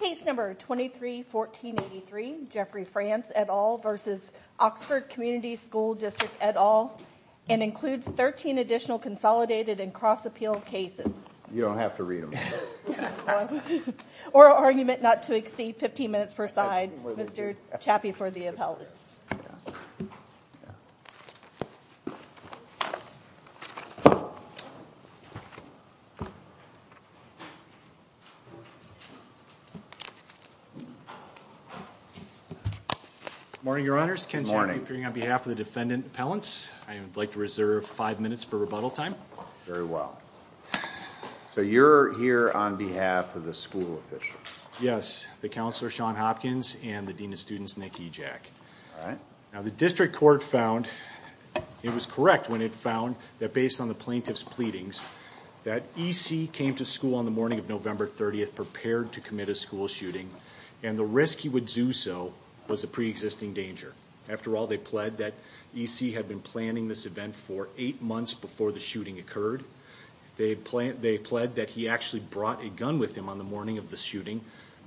Case No. 23-1483, Jeffrey Franz, et al. v. Oxford Comm School District, et al. and includes 13 additional consolidated and cross-appeal cases. You don't have to read them. Or an argument not to exceed 15 minutes per side. Mr. Chappie for the appellate. Good morning, your honors. Ken Chappie appearing on behalf of the defendant appellants. I would like to reserve five minutes for rebuttal time. Very well. So you're here on behalf of the school officials. Yes. The counselor, Sean Hopkins, and the dean of students, Nick Ejak. All right. Now the district court found, it was correct when it found, that based on the plaintiff's pleadings, that E.C. came to school on the morning of November 30th, prepared to commit a school shooting, and the risk he would do so was a pre-existing danger. After all, they pled that E.C. had been planning this event for eight months before the shooting occurred. They pled that he actually brought a gun with him on the morning of the shooting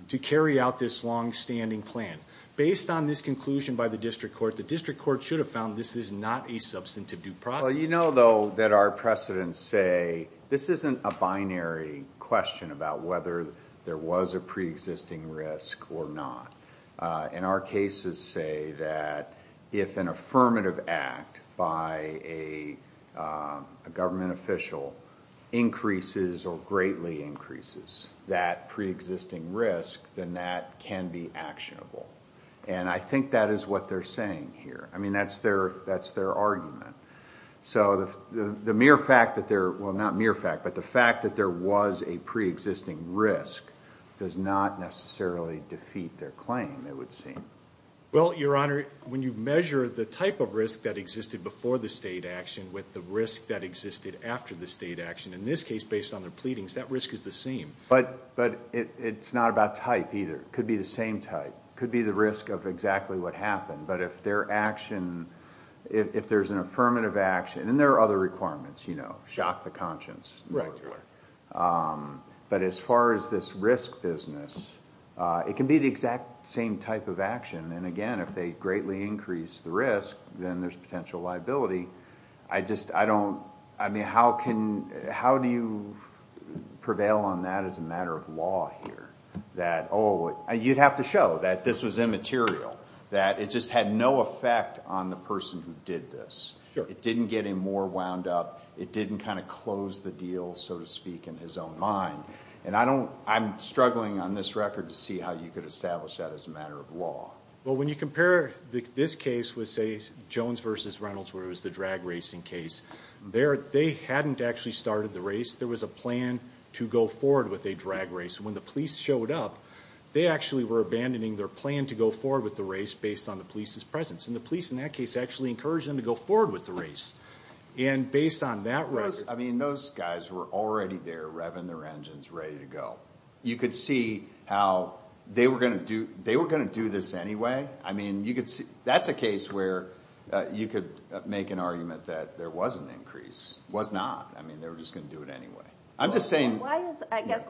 to carry out this long-standing plan. Based on this conclusion by the district court, the district court should have found this is not a substantive due process. We know, though, that our precedents say this isn't a binary question about whether there was a pre-existing risk or not. And our cases say that if an affirmative act by a government official increases or greatly increases that pre-existing risk, then that can be actionable. And I think that is what they're saying here. I mean, that's their argument. So the mere fact that there, well, not mere fact, but the fact that there was a pre-existing risk does not necessarily defeat their claim, it would seem. Well, Your Honor, when you measure the type of risk that existed before the state action with the risk that existed after the state action, in this case, based on their pleadings, that risk is the same. But it's not about type, either. It could be the same type. It could be the risk of exactly what happened. But if their action, if there's an affirmative action, and there are other requirements, you know, shock the conscience. Right, Your Honor. But as far as this risk business, it can be the exact same type of action. And again, if they greatly increase the risk, then there's potential liability. I just, I don't, I mean, how can, how do you prevail on that as a matter of law here? That, oh, you'd have to show that this was immaterial. That it just had no effect on the person who did this. It didn't get him more wound up. It didn't kind of close the deal, so to speak, in his own mind. And I don't, I'm struggling on this record to see how you could establish that as a matter of law. Well, when you compare this case with, say, Jones v. Reynolds, where it was the drag racing case, there, they hadn't actually started the race. There was a plan to go forward with a drag race. When the police showed up, they actually were abandoning their plan to go forward with the race based on the police's presence. And the police, in that case, actually encouraged them to go forward with the race. And based on that record. I mean, those guys were already there revving their engines, ready to go. You could see how they were going to do this anyway. I mean, you could see, that's a case where you could make an argument that there was an increase. Was not. I mean, they were just going to do it anyway. I'm just saying. I guess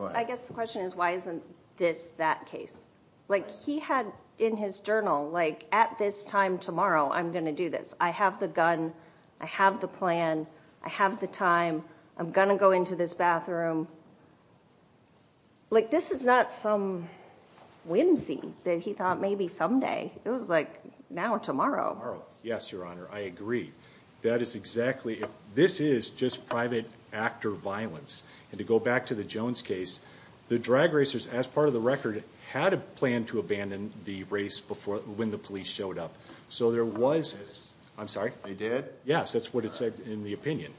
the question is, why isn't this that case? Like, he had in his journal, like, at this time tomorrow, I'm going to do this. I have the gun. I have the plan. I have the time. I'm going to go into this bathroom. Like, this is not some whimsy that he thought maybe someday. It was like, now or tomorrow. Yes, Your Honor, I agree. That is exactly. This is just private actor violence. And to go back to the Jones case. The drag racers, as part of the record, had a plan to abandon the race when the police showed up. So there was. I'm sorry. They did? Yes, that's what it said in the opinion.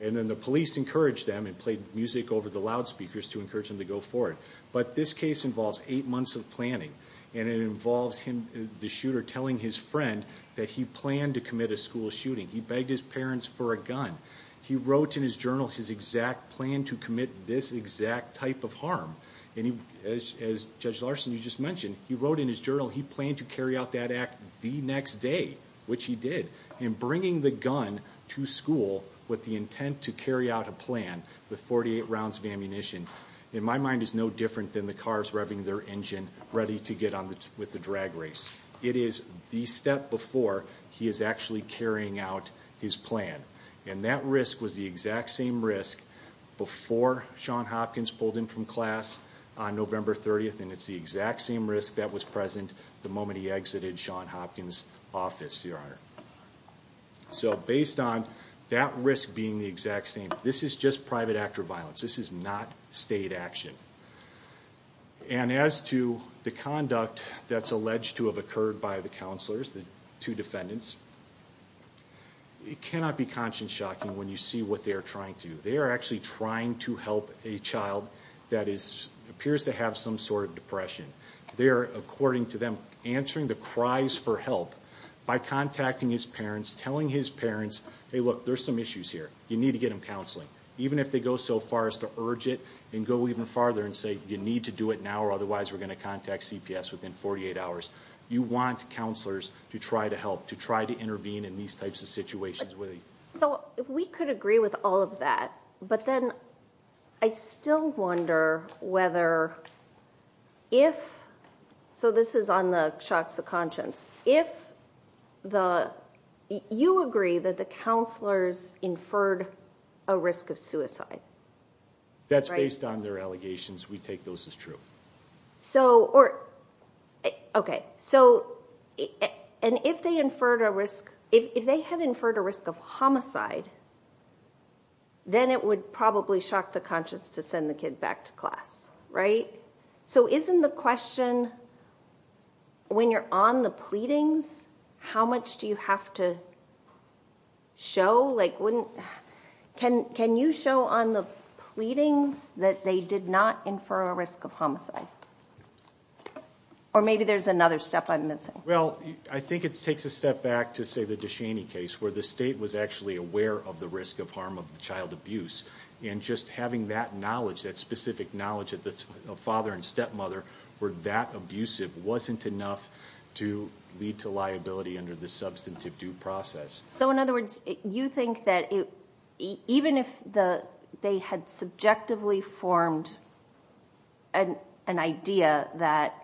And then the police encouraged them and played music over the loudspeakers to encourage them to go forward. But this case involves eight months of planning. And it involves him, the shooter, telling his friend that he planned to commit a school shooting. He begged his parents for a gun. He wrote in his journal his exact plan to commit this exact type of harm. And as Judge Larson, you just mentioned, he wrote in his journal he planned to carry out that act the next day, which he did. And bringing the gun to school with the intent to carry out a plan with 48 rounds of ammunition, in my mind, is no different than the cars revving their engine ready to get on with the drag race. It is the step before he is actually carrying out his plan. And that risk was the exact same risk before Sean Hopkins pulled in from class on November 30th. And it's the exact same risk that was present the moment he exited Sean Hopkins' office, Your Honor. So based on that risk being the exact same, this is just private actor violence. This is not state action. And as to the conduct that's alleged to have occurred by the counselors, the two defendants, it cannot be conscience-shocking when you see what they are trying to do. They are actually trying to help a child that appears to have some sort of depression. They are, according to them, answering the cries for help by contacting his parents, telling his parents, hey, look, there's some issues here. You need to get them counseling. Even if they go so far as to urge it and go even farther and say you need to do it now or otherwise we're going to contact CPS within 48 hours. You want counselors to try to help, to try to intervene in these types of situations. So we could agree with all of that. But then I still wonder whether if, so this is on the shocks of conscience, if you agree that the counselors inferred a risk of suicide. That's based on their allegations. We take those as true. Okay. So and if they inferred a risk, if they had inferred a risk of homicide, then it would probably shock the conscience to send the kid back to class, right? So isn't the question when you're on the pleadings, how much do you have to show? Can you show on the pleadings that they did not infer a risk of homicide? Or maybe there's another step I'm missing. Well, I think it takes a step back to, say, the Deshaney case where the state was actually aware of the risk of harm of child abuse. And just having that knowledge, that specific knowledge of father and stepmother were that abusive wasn't enough to lead to liability under the substantive due process. So in other words, you think that even if they had subjectively formed an idea that,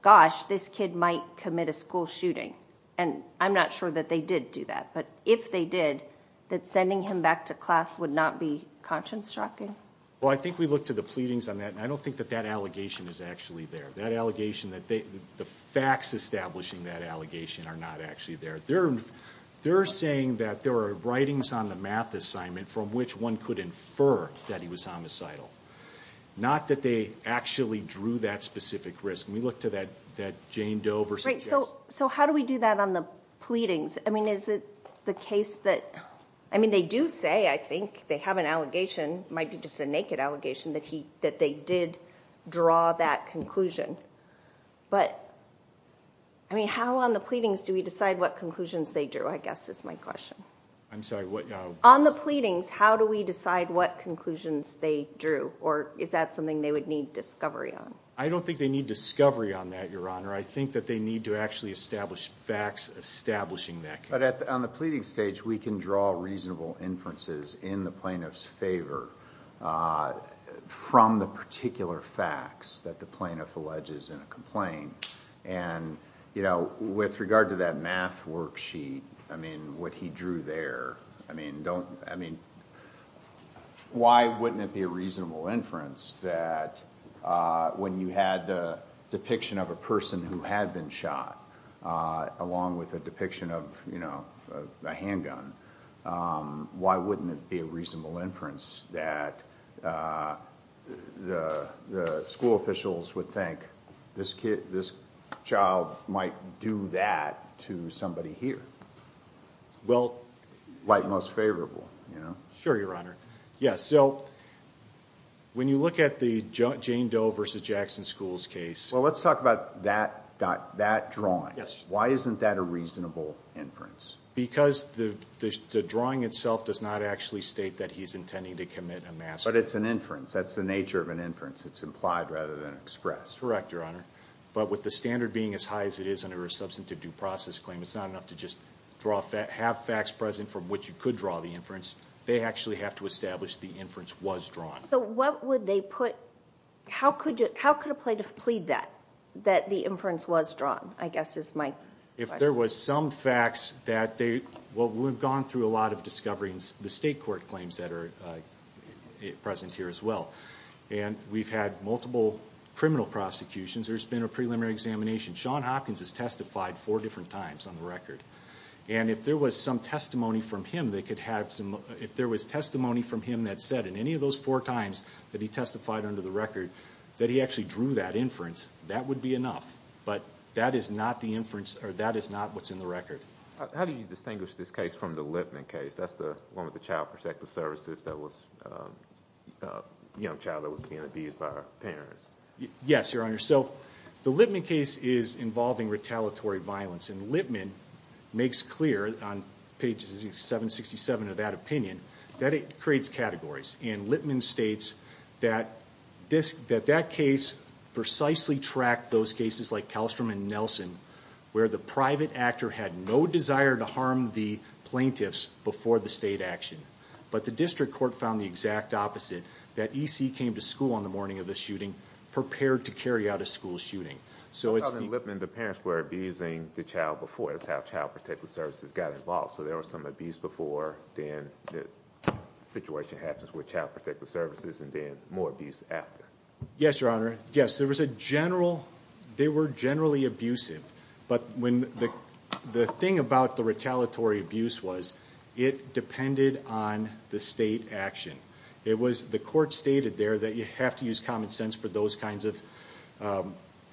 gosh, this kid might commit a school shooting, and I'm not sure that they did do that, but if they did, that sending him back to class would not be conscience-shocking? Well, I think we look to the pleadings on that, and I don't think that that allegation is actually there. That allegation, the facts establishing that allegation are not actually there. They're saying that there are writings on the math assignment from which one could infer that he was homicidal, not that they actually drew that specific risk. And we look to that Jane Doe versus the case. So how do we do that on the pleadings? I mean, is it the case that, I mean, they do say, I think, they have an allegation, it might be just a naked allegation, that they did draw that conclusion. But, I mean, how on the pleadings do we decide what conclusions they drew, I guess, is my question. I'm sorry, what? On the pleadings, how do we decide what conclusions they drew, or is that something they would need discovery on? I don't think they need discovery on that, Your Honor. I think that they need to actually establish facts establishing that. But on the pleading stage, we can draw reasonable inferences in the plaintiff's favor from the particular facts that the plaintiff alleges in a complaint. And, you know, with regard to that math worksheet, I mean, what he drew there, I mean, don't, I mean, why wouldn't it be a reasonable inference that when you had the depiction of a person who had been shot, along with a depiction of, you know, a handgun, why wouldn't it be a reasonable inference that the school officials would think, this kid, this child might do that to somebody here? Well, Like most favorable, you know? Sure, Your Honor. Yeah, so when you look at the Jane Doe versus Jackson School's case. Well, let's talk about that drawing. Yes. Why isn't that a reasonable inference? Because the drawing itself does not actually state that he's intending to commit a massacre. But it's an inference. That's the nature of an inference. It's implied rather than expressed. Correct, Your Honor. But with the standard being as high as it is under a substantive due process claim, it's not enough to just have facts present from which you could draw the inference. They actually have to establish the inference was drawn. So what would they put? How could a plaintiff plead that, that the inference was drawn, I guess is my question. If there was some facts that they, well, we've gone through a lot of discoveries, the state court claims that are present here as well. And we've had multiple criminal prosecutions. There's been a preliminary examination. Sean Hopkins has testified four different times on the record. And if there was some testimony from him that could have some, if there was testimony from him that said in any of those four times that he testified under the record that he actually drew that inference, that would be enough. But that is not the inference, or that is not what's in the record. How do you distinguish this case from the Lipman case? That's the one with the child protective services that was, a young child that was being abused by her parents. Yes, Your Honor. So the Lipman case is involving retaliatory violence. And Lipman makes clear on pages 767 of that opinion that it creates categories. And Lipman states that that case precisely tracked those cases like Kallstrom and Nelson, where the private actor had no desire to harm the plaintiffs before the state action. But the district court found the exact opposite, that E.C. came to school on the morning of the shooting, prepared to carry out a school shooting. So in Lipman, the parents were abusing the child before. That's how child protective services got involved. So there was some abuse before, then the situation happens with child protective services, and then more abuse after. Yes, Your Honor. Yes, there was a general, they were generally abusive. But the thing about the retaliatory abuse was it depended on the state action. The court stated there that you have to use common sense for those kinds of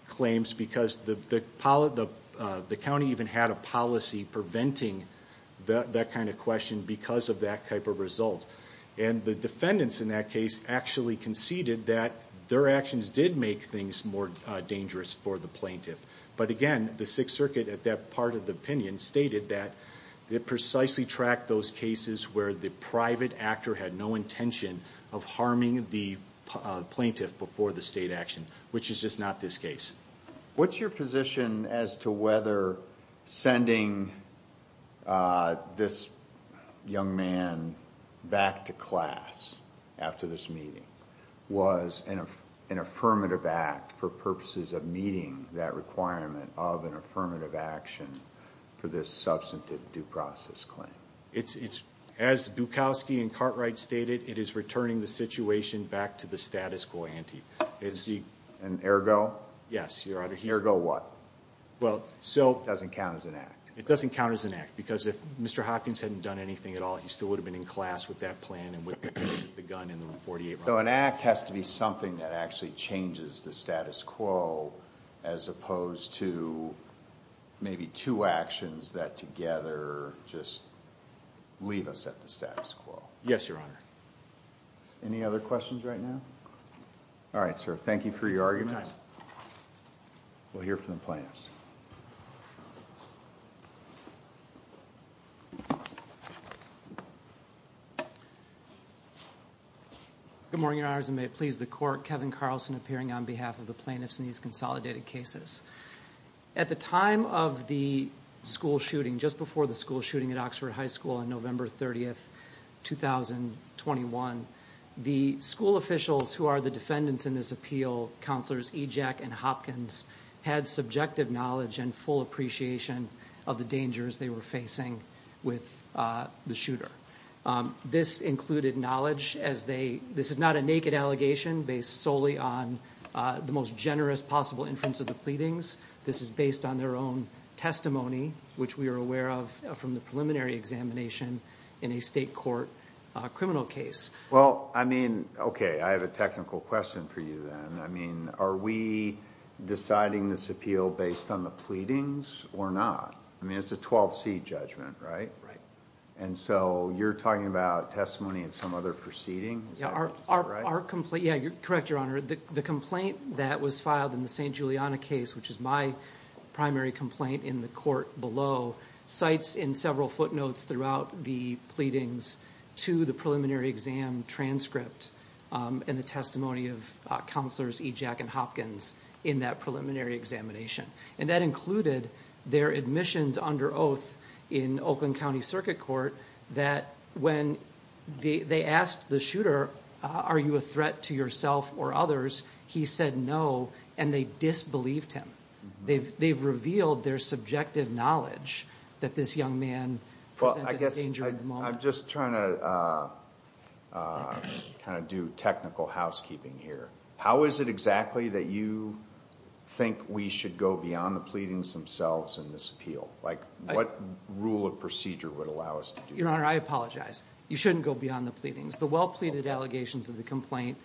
claims because the county even had a policy preventing that kind of question because of that type of result. And the defendants in that case actually conceded that their actions did make things more dangerous for the plaintiff. But again, the Sixth Circuit, at that part of the opinion, stated that it precisely tracked those cases where the private actor had no intention of harming the plaintiff before the state action, which is just not this case. What's your position as to whether sending this young man back to class after this meeting was an affirmative act for purposes of meeting that requirement of an affirmative action for this substantive due process claim? As Dukowski and Cartwright stated, it is returning the situation back to the status quo ante. And ergo? Yes, Your Honor. Ergo what? Well, so. It doesn't count as an act. It doesn't count as an act because if Mr. Hopkins hadn't done anything at all, he still would have been in class with that plan and with the gun and the .48 rifle. So an act has to be something that actually changes the status quo as opposed to maybe two actions that together just leave us at the status quo. Yes, Your Honor. Any other questions right now? All right, sir. Thank you for your argument. We'll hear from the plaintiffs. Good morning, Your Honors, and may it please the Court. Kevin Carlson appearing on behalf of the plaintiffs in these consolidated cases. At the time of the school shooting, just before the school shooting at Oxford High School on November 30th, 2021, the school officials who are the defendants in this appeal, counselors Ejac and Hopkins, had subjective knowledge of the case. They had subjective knowledge and full appreciation of the dangers they were facing with the shooter. This included knowledge as they – this is not a naked allegation based solely on the most generous possible inference of the pleadings. This is based on their own testimony, which we are aware of from the preliminary examination in a state court criminal case. Well, I mean, okay, I have a technical question for you then. I mean, are we deciding this appeal based on the pleadings or not? I mean, it's a 12C judgment, right? Right. And so you're talking about testimony in some other proceeding? Yeah, our complaint – yeah, correct, Your Honor. The complaint that was filed in the St. Juliana case, which is my primary complaint in the court below, cites in several footnotes throughout the pleadings to the preliminary exam transcript and the testimony of counselors Ejac and Hopkins in that preliminary examination. And that included their admissions under oath in Oakland County Circuit Court that when they asked the shooter, are you a threat to yourself or others, he said no, and they disbelieved him. They've revealed their subjective knowledge that this young man presented a dangerous moment. Well, I guess I'm just trying to kind of do technical housekeeping here. How is it exactly that you think we should go beyond the pleadings themselves in this appeal? Like, what rule of procedure would allow us to do that? Your Honor, I apologize. You shouldn't go beyond the pleadings. The well-pleaded allegations of the complaint,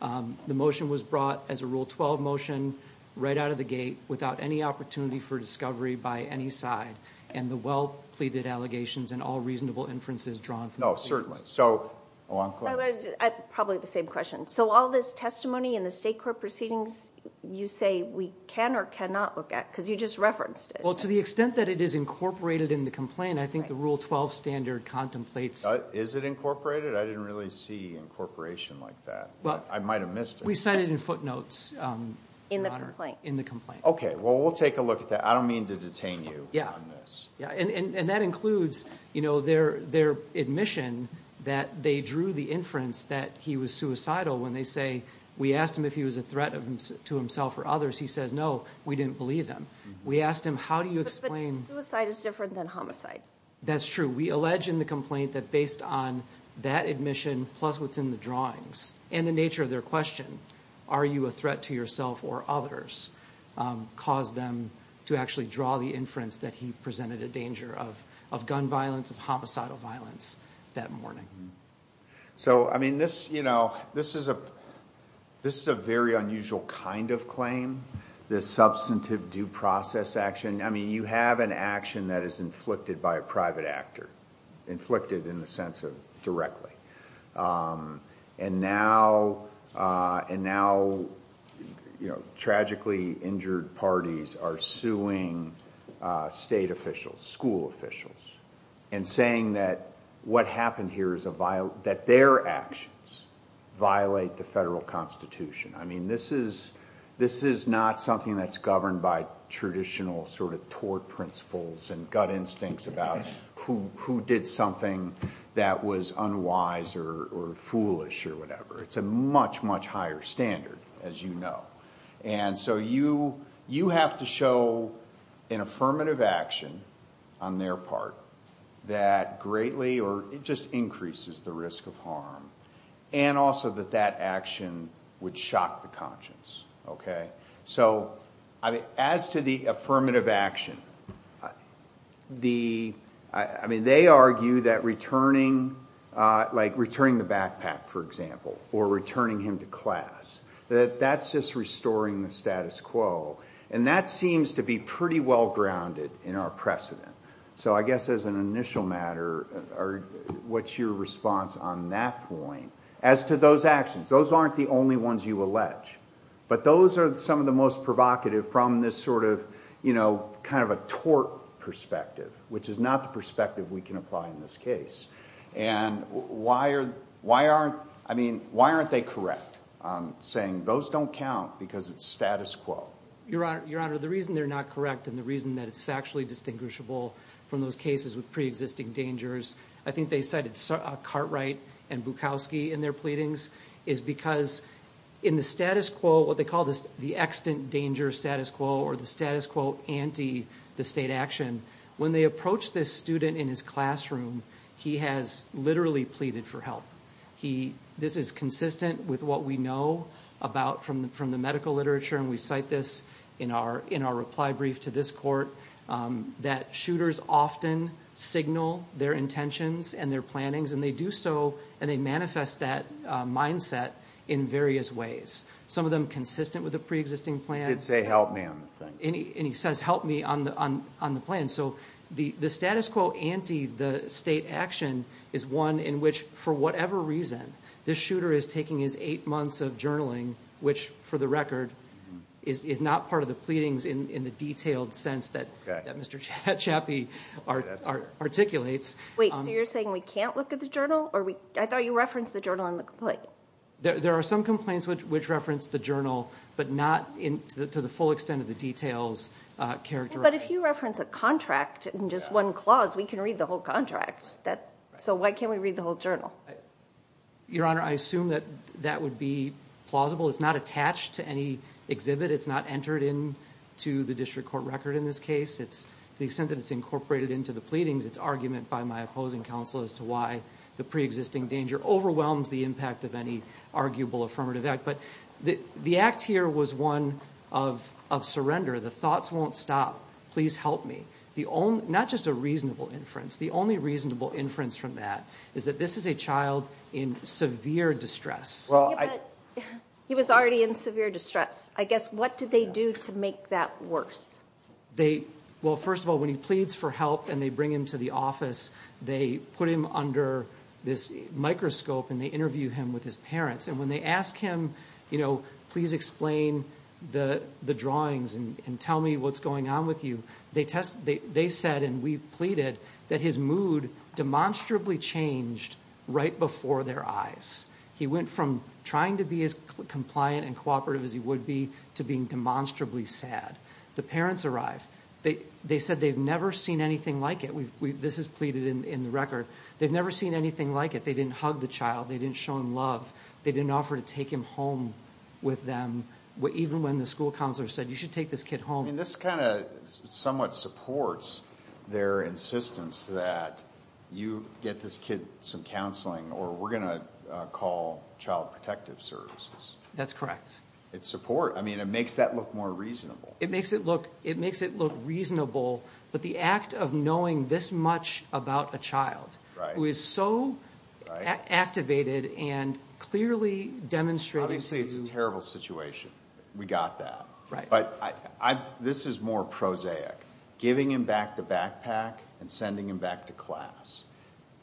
the motion was brought as a Rule 12 motion right out of the gate. Without any opportunity for discovery by any side. And the well-pleaded allegations and all reasonable inferences drawn from the pleadings. No, certainly. So, a long question. Probably the same question. So all this testimony in the state court proceedings, you say we can or cannot look at? Because you just referenced it. Well, to the extent that it is incorporated in the complaint, I think the Rule 12 standard contemplates. Is it incorporated? I didn't really see incorporation like that. I might have missed it. We cite it in footnotes, Your Honor. In the complaint. Okay. Well, we'll take a look at that. I don't mean to detain you on this. Yeah. And that includes, you know, their admission that they drew the inference that he was suicidal. When they say, we asked him if he was a threat to himself or others. He said, no, we didn't believe him. We asked him, how do you explain. But suicide is different than homicide. That's true. We allege in the complaint that based on that admission plus what's in the drawings and the nature of their question. Are you a threat to yourself or others? Caused them to actually draw the inference that he presented a danger of gun violence, of homicidal violence that morning. So, I mean, this, you know, this is a very unusual kind of claim. The substantive due process action. I mean, you have an action that is inflicted by a private actor. Inflicted in the sense of directly. And now, and now, you know, tragically injured parties are suing state officials, school officials. And saying that what happened here is a violent, that their actions violate the federal constitution. I mean, this is, this is not something that's governed by traditional sort of tort principles and gut instincts about who, who did something that was unwise or foolish or whatever. It's a much, much higher standard, as you know. And so you, you have to show an affirmative action on their part that greatly, or it just increases the risk of harm. And also that that action would shock the conscience. So, as to the affirmative action, the, I mean, they argue that returning, like returning the backpack, for example. Or returning him to class. That that's just restoring the status quo. And that seems to be pretty well grounded in our precedent. So I guess as an initial matter, what's your response on that point? As to those actions, those aren't the only ones you allege. But those are some of the most provocative from this sort of, you know, kind of a tort perspective. Which is not the perspective we can apply in this case. And why are, why aren't, I mean, why aren't they correct? Saying those don't count because it's status quo. Your Honor, the reason they're not correct and the reason that it's factually distinguishable from those cases with pre-existing dangers. I think they cited Cartwright and Bukowski in their pleadings. Is because in the status quo, what they call the extant danger status quo. Or the status quo anti the state action. When they approach this student in his classroom, he has literally pleaded for help. He, this is consistent with what we know about from the medical literature. And we cite this in our reply brief to this court. That shooters often signal their intentions and their plannings. And they do so, and they manifest that mindset in various ways. Some of them consistent with a pre-existing plan. He did say help me on the thing. And he says help me on the plan. So the status quo anti the state action is one in which for whatever reason. This shooter is taking his eight months of journaling. Which for the record is not part of the pleadings in the detailed sense that Mr. Chappie articulates. Wait, so you're saying we can't look at the journal? I thought you referenced the journal in the complaint. There are some complaints which reference the journal. But not to the full extent of the details characterized. But if you reference a contract in just one clause, we can read the whole contract. So why can't we read the whole journal? Your Honor, I assume that that would be plausible. It's not attached to any exhibit. It's not entered into the district court record in this case. To the extent that it's incorporated into the pleadings, it's argument by my opposing counsel. As to why the pre-existing danger overwhelms the impact of any arguable affirmative act. But the act here was one of surrender. The thoughts won't stop. Please help me. Not just a reasonable inference. The only reasonable inference from that is that this is a child in severe distress. He was already in severe distress. I guess what did they do to make that worse? Well, first of all, when he pleads for help and they bring him to the office. They put him under this microscope and they interview him with his parents. And when they ask him, you know, please explain the drawings and tell me what's going on with you. They said and we pleaded that his mood demonstrably changed right before their eyes. He went from trying to be as compliant and cooperative as he would be to being demonstrably sad. The parents arrived. They said they've never seen anything like it. This is pleaded in the record. They've never seen anything like it. They didn't hug the child. They didn't show him love. They didn't offer to take him home with them. Even when the school counselor said you should take this kid home. I mean, this kind of somewhat supports their insistence that you get this kid some counseling or we're going to call child protective services. That's correct. It's support. I mean, it makes that look more reasonable. It makes it look reasonable. But the act of knowing this much about a child who is so activated and clearly demonstrated to you. Obviously, it's a terrible situation. We got that. This is more prosaic. Giving him back the backpack and sending him back to class.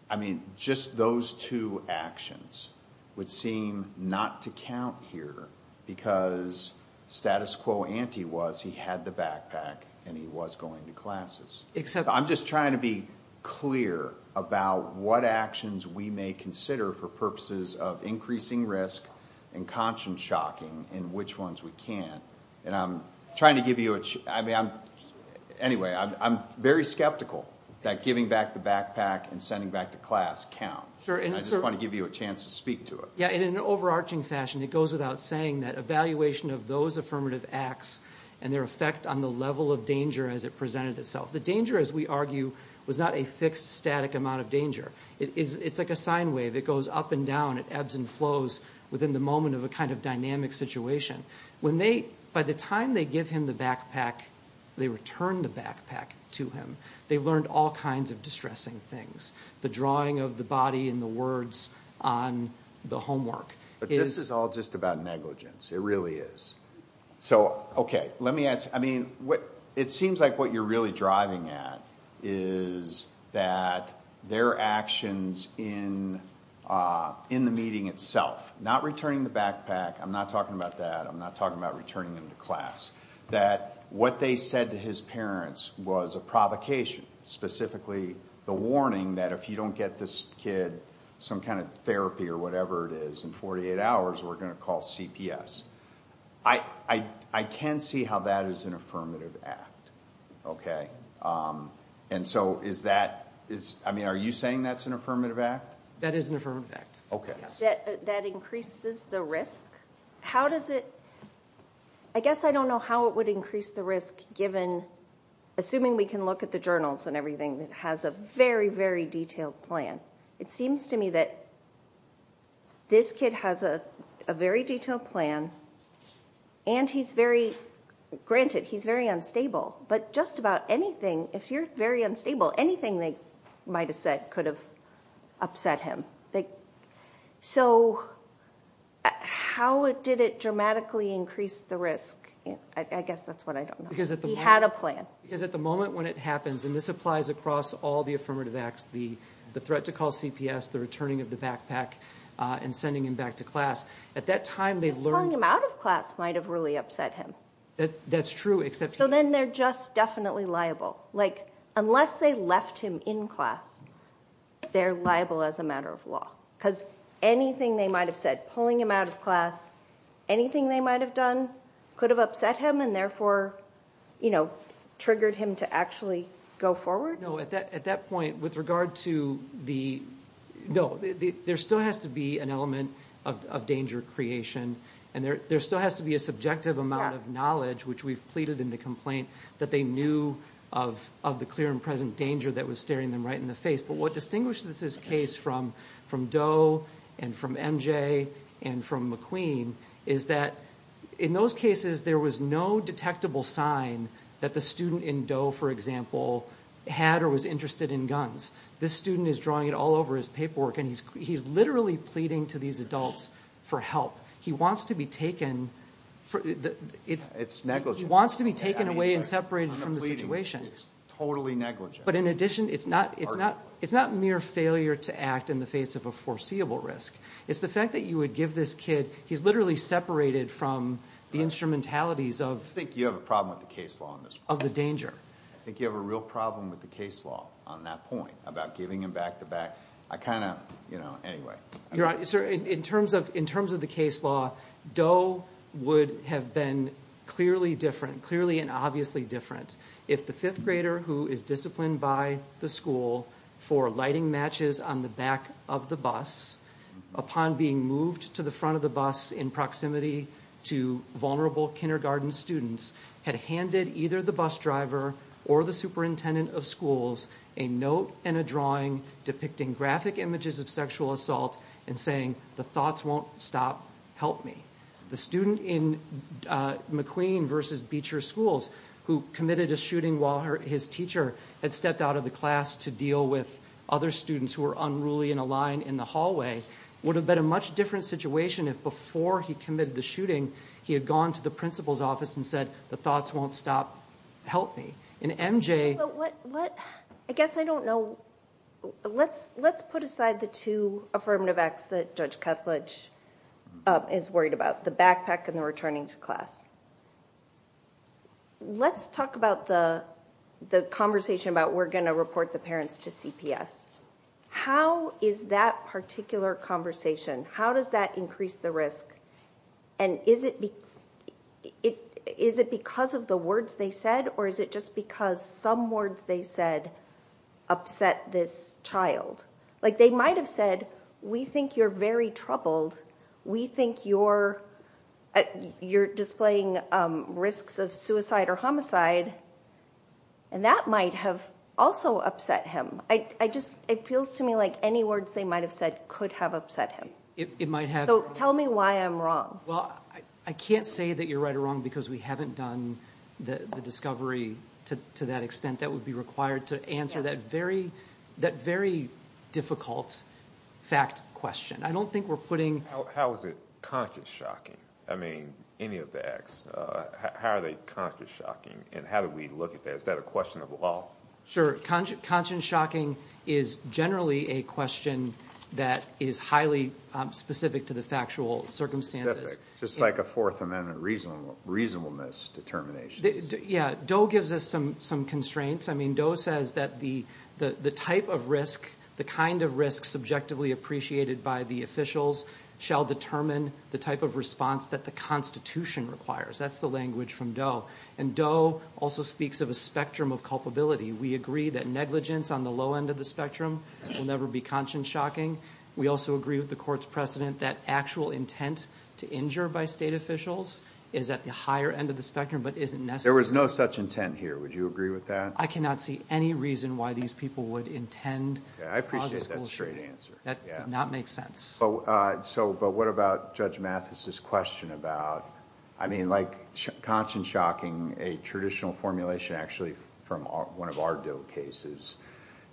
I mean, just those two actions would seem not to count here because status quo ante was he had the backpack and he was going to classes. I'm just trying to be clear about what actions we may consider for purposes of increasing risk and conscience shocking in which ones we can't. And I'm trying to give you a chance. Anyway, I'm very skeptical that giving back the backpack and sending back to class count. I just want to give you a chance to speak to it. In an overarching fashion, it goes without saying that evaluation of those affirmative acts and their effect on the level of danger as it presented itself. The danger, as we argue, was not a fixed static amount of danger. It's like a sine wave. It goes up and down. It ebbs and flows within the moment of a kind of dynamic situation. By the time they give him the backpack, they return the backpack to him. They've learned all kinds of distressing things. The drawing of the body and the words on the homework. But this is all just about negligence. It really is. It seems like what you're really driving at is that their actions in the meeting itself, not returning the backpack. I'm not talking about that. I'm not talking about returning them to class. That what they said to his parents was a provocation, specifically the warning that if you don't get this kid some kind of therapy or whatever it is in 48 hours, we're going to call CPS. I can see how that is an affirmative act. Are you saying that's an affirmative act? That is an affirmative act. That increases the risk? I guess I don't know how it would increase the risk, assuming we can look at the journals and everything, that has a very, very detailed plan. It seems to me that this kid has a very detailed plan and he's very, granted, he's very unstable. But just about anything, if you're very unstable, anything they might have said could have upset him. So how did it dramatically increase the risk? I guess that's what I don't know. He had a plan. Because at the moment when it happens, and this applies across all the affirmative acts, the threat to call CPS, the returning of the backpack, and sending him back to class, at that time they've learned... Just pulling him out of class might have really upset him. That's true, except... So then they're just definitely liable. Like, unless they left him in class, they're liable as a matter of law. Because anything they might have said, pulling him out of class, anything they might have done, could have upset him and therefore, you know, triggered him to actually go forward? No, at that point, with regard to the... No, there still has to be an element of danger creation, and there still has to be a subjective amount of knowledge, which we've pleaded in the complaint, that they knew of the clear and present danger that was staring them right in the face. But what distinguishes this case from Doe and from MJ and from McQueen is that in those cases there was no detectable sign that the student in Doe, for example, had or was interested in guns. This student is drawing it all over his paperwork, and he's literally pleading to these adults for help. He wants to be taken... It's negligent. He wants to be taken away and separated from the situation. It's totally negligent. But in addition, it's not mere failure to act in the face of a foreseeable risk. It's the fact that you would give this kid... He's literally separated from the instrumentalities of... I think you have a problem with the case law on this point. Of the danger. I think you have a real problem with the case law on that point, about giving him back-to-back. I kind of... Anyway. Your Honor, sir, in terms of the case law, Doe would have been clearly different, clearly and obviously different, if the fifth grader who is disciplined by the school for lighting matches on the back of the bus upon being moved to the front of the bus in proximity to vulnerable kindergarten students had handed either the bus driver or the superintendent of schools a note and a drawing depicting graphic images of sexual assault and saying, the thoughts won't stop, help me. The student in McQueen v. Beecher Schools, who committed a shooting while his teacher had stepped out of the class to deal with other students who were unruly in a line in the hallway, would have been a much different situation if before he committed the shooting he had gone to the principal's office and said, the thoughts won't stop, help me. In MJ... I guess I don't know. Let's put aside the two affirmative acts that Judge Cutledge is worried about, the backpack and the returning to class. Let's talk about the conversation about we're going to report the parents to CPS. How is that particular conversation, how does that increase the risk? And is it because of the words they said, or is it just because some words they said upset this child? Like they might have said, we think you're very troubled, we think you're displaying risks of suicide or homicide, and that might have also upset him. It feels to me like any words they might have said could have upset him. So tell me why I'm wrong. Well, I can't say that you're right or wrong because we haven't done the discovery to that extent that would be required to answer that very difficult fact question. I don't think we're putting... How is it conscience-shocking? I mean, any of the acts, how are they conscience-shocking? And how do we look at that? Is that a question of law? Sure. So conscience-shocking is generally a question that is highly specific to the factual circumstances. Specific, just like a Fourth Amendment reasonableness determination. Yeah, Doe gives us some constraints. I mean, Doe says that the type of risk, the kind of risk subjectively appreciated by the officials shall determine the type of response that the Constitution requires. That's the language from Doe. And Doe also speaks of a spectrum of culpability. We agree that negligence on the low end of the spectrum will never be conscience-shocking. We also agree with the Court's precedent that actual intent to injure by state officials is at the higher end of the spectrum but isn't necessary. There was no such intent here. Would you agree with that? I cannot see any reason why these people would intend to cause a school shooting. I appreciate that straight answer. That does not make sense. But what about Judge Mathis's question about... I mean, like conscience-shocking, a traditional formulation actually from one of our Doe cases.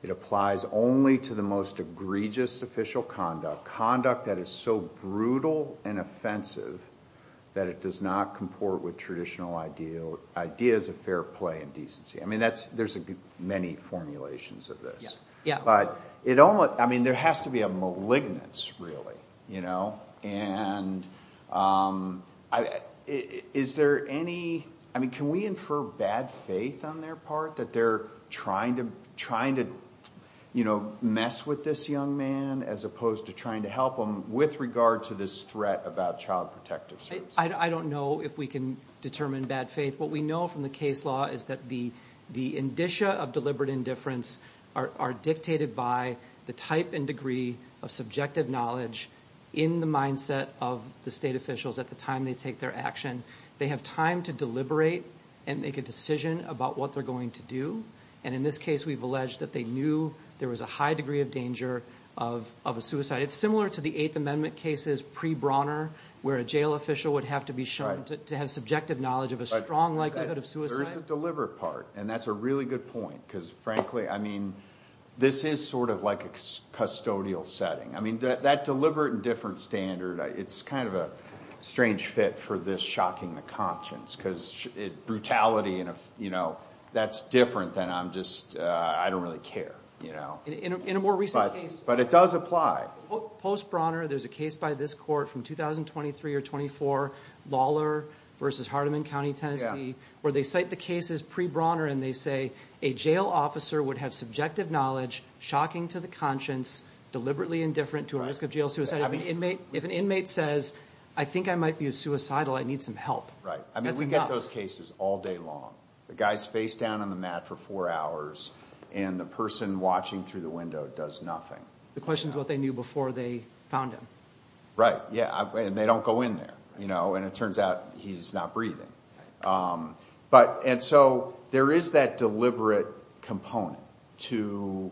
It applies only to the most egregious official conduct, conduct that is so brutal and offensive that it does not comport with traditional ideas of fair play and decency. I mean, there's many formulations of this. But it only... I mean, there has to be a malignance, really, you know? And is there any... I mean, can we infer bad faith on their part, that they're trying to mess with this young man as opposed to trying to help him with regard to this threat about child protective suits? I don't know if we can determine bad faith. What we know from the case law is that the indicia of deliberate indifference are dictated by the type and degree of subjective knowledge in the mindset of the state officials at the time they take their action. They have time to deliberate and make a decision about what they're going to do. And in this case, we've alleged that they knew there was a high degree of danger of a suicide. It's similar to the Eighth Amendment cases pre-Brauner, where a jail official would have to be shown to have subjective knowledge of a strong likelihood of suicide. There is a deliberate part, and that's a really good point. Because, frankly, I mean, this is sort of like a custodial setting. I mean, that deliberate indifference standard, it's kind of a strange fit for this shocking the conscience because brutality, you know, that's different than I'm just, I don't really care, you know. In a more recent case... But it does apply. Post-Brauner, there's a case by this court from 2023 or 24, Lawler v. Hardeman County, Tennessee, where they cite the cases pre-Brauner and they say a jail officer would have subjective knowledge, shocking to the conscience, deliberately indifferent to a risk of jail suicide. If an inmate says, I think I might be suicidal, I need some help. Right, I mean, we get those cases all day long. The guy's face down on the mat for four hours and the person watching through the window does nothing. The question is what they knew before they found him. Right, yeah, and they don't go in there, you know, and it turns out he's not breathing. And so there is that deliberate component to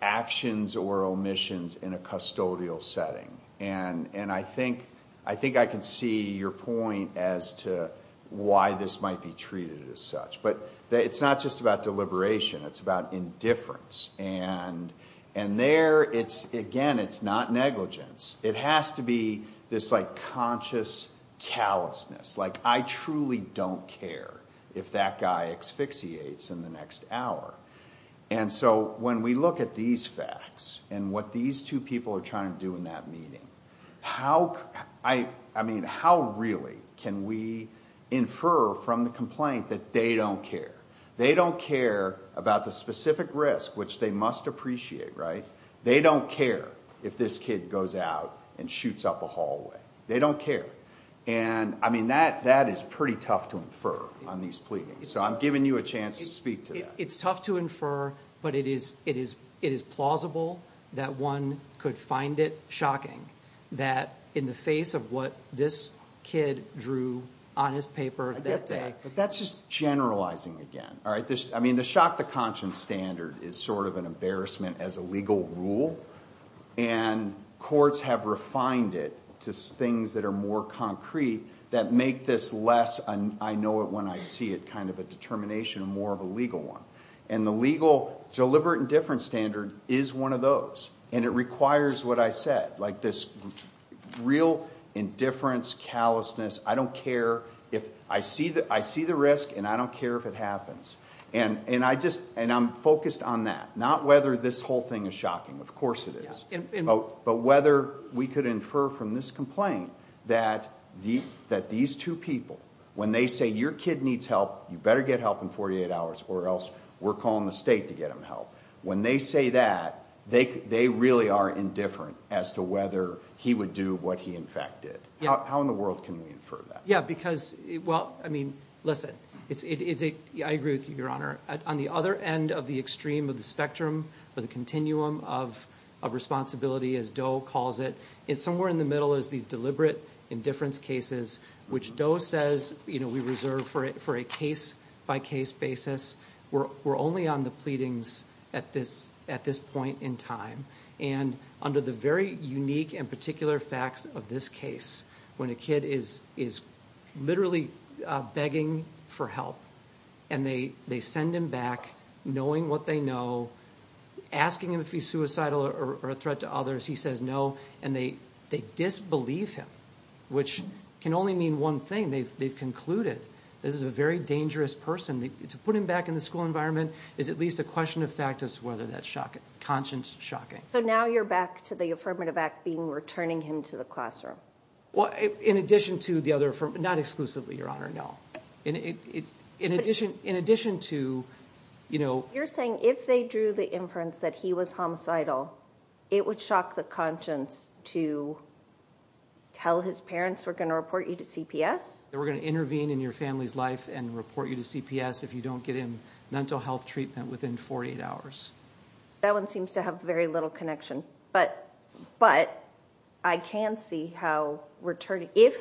actions or omissions in a custodial setting. And I think I can see your point as to why this might be treated as such. But it's not just about deliberation. It's about indifference. And there, again, it's not negligence. It has to be this, like, conscious callousness. Like, I truly don't care if that guy asphyxiates in the next hour. And so when we look at these facts and what these two people are trying to do in that meeting, how, I mean, how really can we infer from the complaint that they don't care? They don't care about the specific risk, which they must appreciate, right? They don't care if this kid goes out and shoots up a hallway. They don't care. And, I mean, that is pretty tough to infer on these pleadings. So I'm giving you a chance to speak to that. It's tough to infer. But it is plausible that one could find it shocking that in the face of what this kid drew on his paper that day. I get that. But that's just generalizing again, all right? I mean, the shock to conscience standard is sort of an embarrassment as a legal rule. And courts have refined it to things that are more concrete that make this less an I-know-it-when-I-see-it kind of a determination and more of a legal one. And the legal deliberate indifference standard is one of those. And it requires what I said, like this real indifference, callousness, I don't care. I see the risk, and I don't care if it happens. And I'm focused on that, not whether this whole thing is shocking. Of course it is. But whether we could infer from this complaint that these two people, when they say your kid needs help, you better get help in 48 hours, or else we're calling the state to get him help. When they say that, they really are indifferent as to whether he would do what he, in fact, did. How in the world can we infer that? Yeah, because, well, I mean, listen. I agree with you, Your Honor. On the other end of the extreme of the spectrum or the continuum of responsibility, as Doe calls it, somewhere in the middle is the deliberate indifference cases, which Doe says we reserve for a case-by-case basis. We're only on the pleadings at this point in time. And under the very unique and particular facts of this case, when a kid is literally begging for help, and they send him back knowing what they know, asking him if he's suicidal or a threat to others, he says no. And they disbelieve him, which can only mean one thing. They've concluded that this is a very dangerous person. To put him back in the school environment is at least a question of fact as to whether that's conscience-shocking. So now you're back to the affirmative act being returning him to the classroom. Well, in addition to the other affirmative, not exclusively, Your Honor, no. In addition to, you know. You're saying if they drew the inference that he was homicidal, it would shock the conscience to tell his parents, we're going to report you to CPS. They were going to intervene in your family's life and report you to CPS if you don't get him mental health treatment within 48 hours. That one seems to have very little connection. But I can see how returning, if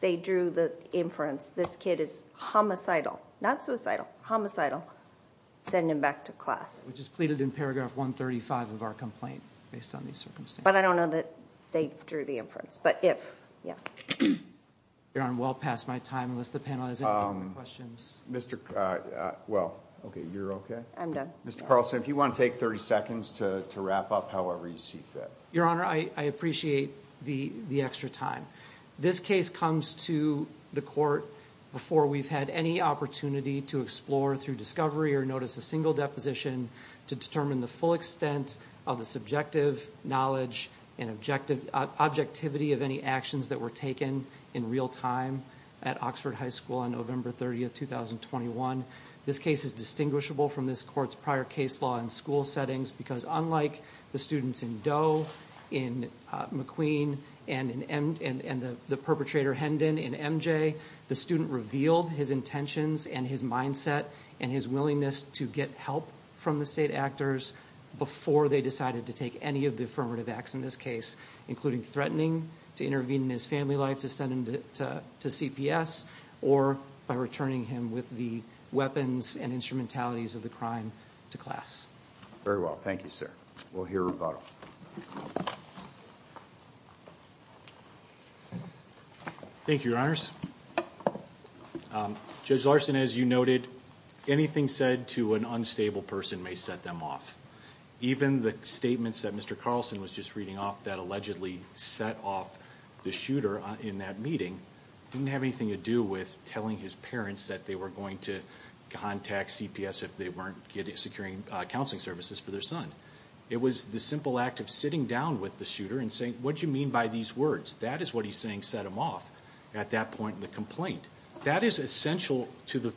they drew the inference this kid is homicidal, not suicidal, homicidal, send him back to class. Which is pleaded in paragraph 135 of our complaint based on these circumstances. But I don't know that they drew the inference. But if, yeah. Your Honor, I'm well past my time unless the panel has any questions. Well, OK. You're OK? I'm done. Mr. Carlson, if you want to take 30 seconds to wrap up however you see fit. Your Honor, I appreciate the extra time. This case comes to the court before we've had any opportunity to explore through discovery or notice a single deposition to determine the full extent of the subjective knowledge and objectivity of any actions that were taken in real time at Oxford High School on November 30, 2021. This case is distinguishable from this court's prior case law in school settings. Because unlike the students in Doe, in McQueen, and the perpetrator Hendon in MJ, the student revealed his intentions and his mindset and his willingness to get help from the state actors before they decided to take any of the affirmative acts in this case, including threatening to intervene in his family life to send him to CPS or by returning him with the weapons and instrumentalities of the crime to class. Very well. Thank you, sir. We'll hear rebuttal. Thank you, Your Honors. Judge Larson, as you noted, anything said to an unstable person may set them off. Even the statements that Mr. Carlson was just reading off that allegedly set off the shooter in that meeting didn't have anything to do with telling his parents that they were going to contact CPS if they weren't securing counseling services for their son. It was the simple act of sitting down with the shooter and saying, what do you mean by these words? That is what he's saying set him off. At that point in the complaint, that is essential to the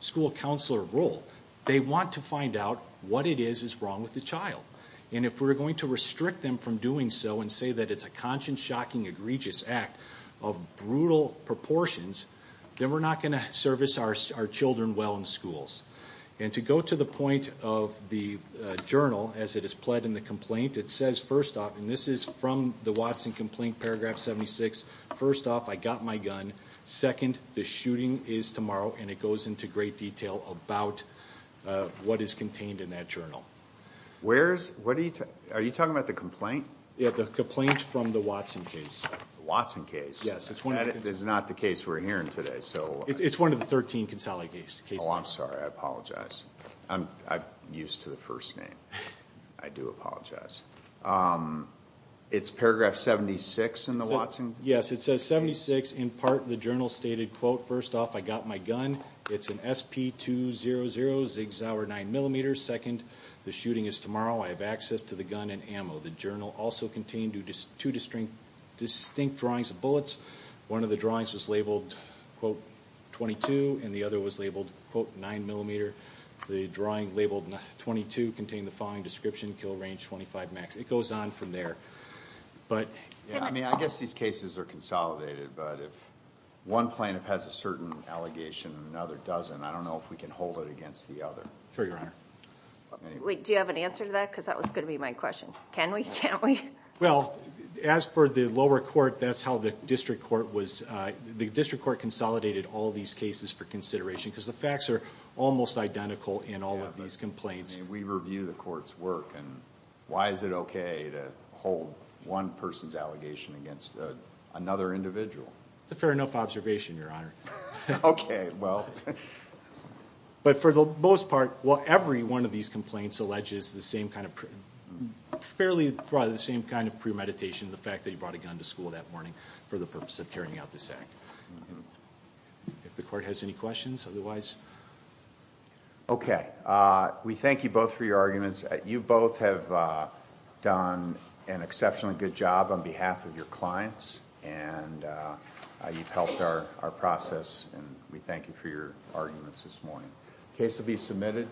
school counselor role. They want to find out what it is is wrong with the child. And if we're going to restrict them from doing so and say that it's a conscious, shocking, egregious act of brutal proportions, then we're not going to service our children well in schools. And to go to the point of the journal as it is pled in the complaint, it says, first off, and this is from the Watson complaint, paragraph 76, first off, I got my gun. Second, the shooting is tomorrow. And it goes into great detail about what is contained in that journal. Are you talking about the complaint? Yeah, the complaint from the Watson case. The Watson case? Yes. That is not the case we're hearing today. It's one of the 13 consolidated cases. Oh, I'm sorry. I apologize. I'm used to the first name. I do apologize. It's paragraph 76 in the Watson? It says 76. In part, the journal stated, quote, first off, I got my gun. It's an SP200 Zig Zauer 9mm. Second, the shooting is tomorrow. I have access to the gun and ammo. The journal also contained two distinct drawings of bullets. One of the drawings was labeled, quote, 22, and the other was labeled, quote, 9mm. The drawing labeled 22 contained the following description, kill range 25 max. It goes on from there. Yeah, I mean, I guess these cases are consolidated. But if one plaintiff has a certain allegation and another doesn't, I don't know if we can hold it against the other. Sure, Your Honor. Wait, do you have an answer to that? Because that was going to be my question. Can we? Can't we? Well, as per the lower court, that's how the district court was. The district court consolidated all these cases for consideration, because the facts are almost identical in all of these complaints. I mean, we review the court's work. And why is it OK to hold one person's allegation against another individual? It's a fair enough observation, Your Honor. OK, well. But for the most part, every one of these complaints alleges the same kind of premeditation, the fact that he brought a gun to school that morning for the purpose of carrying out this act. If the court has any questions, otherwise. OK. We thank you both for your arguments. You both have done an exceptionally good job on behalf of your clients. And you've helped our process. And we thank you for your arguments this morning. The case will be submitted.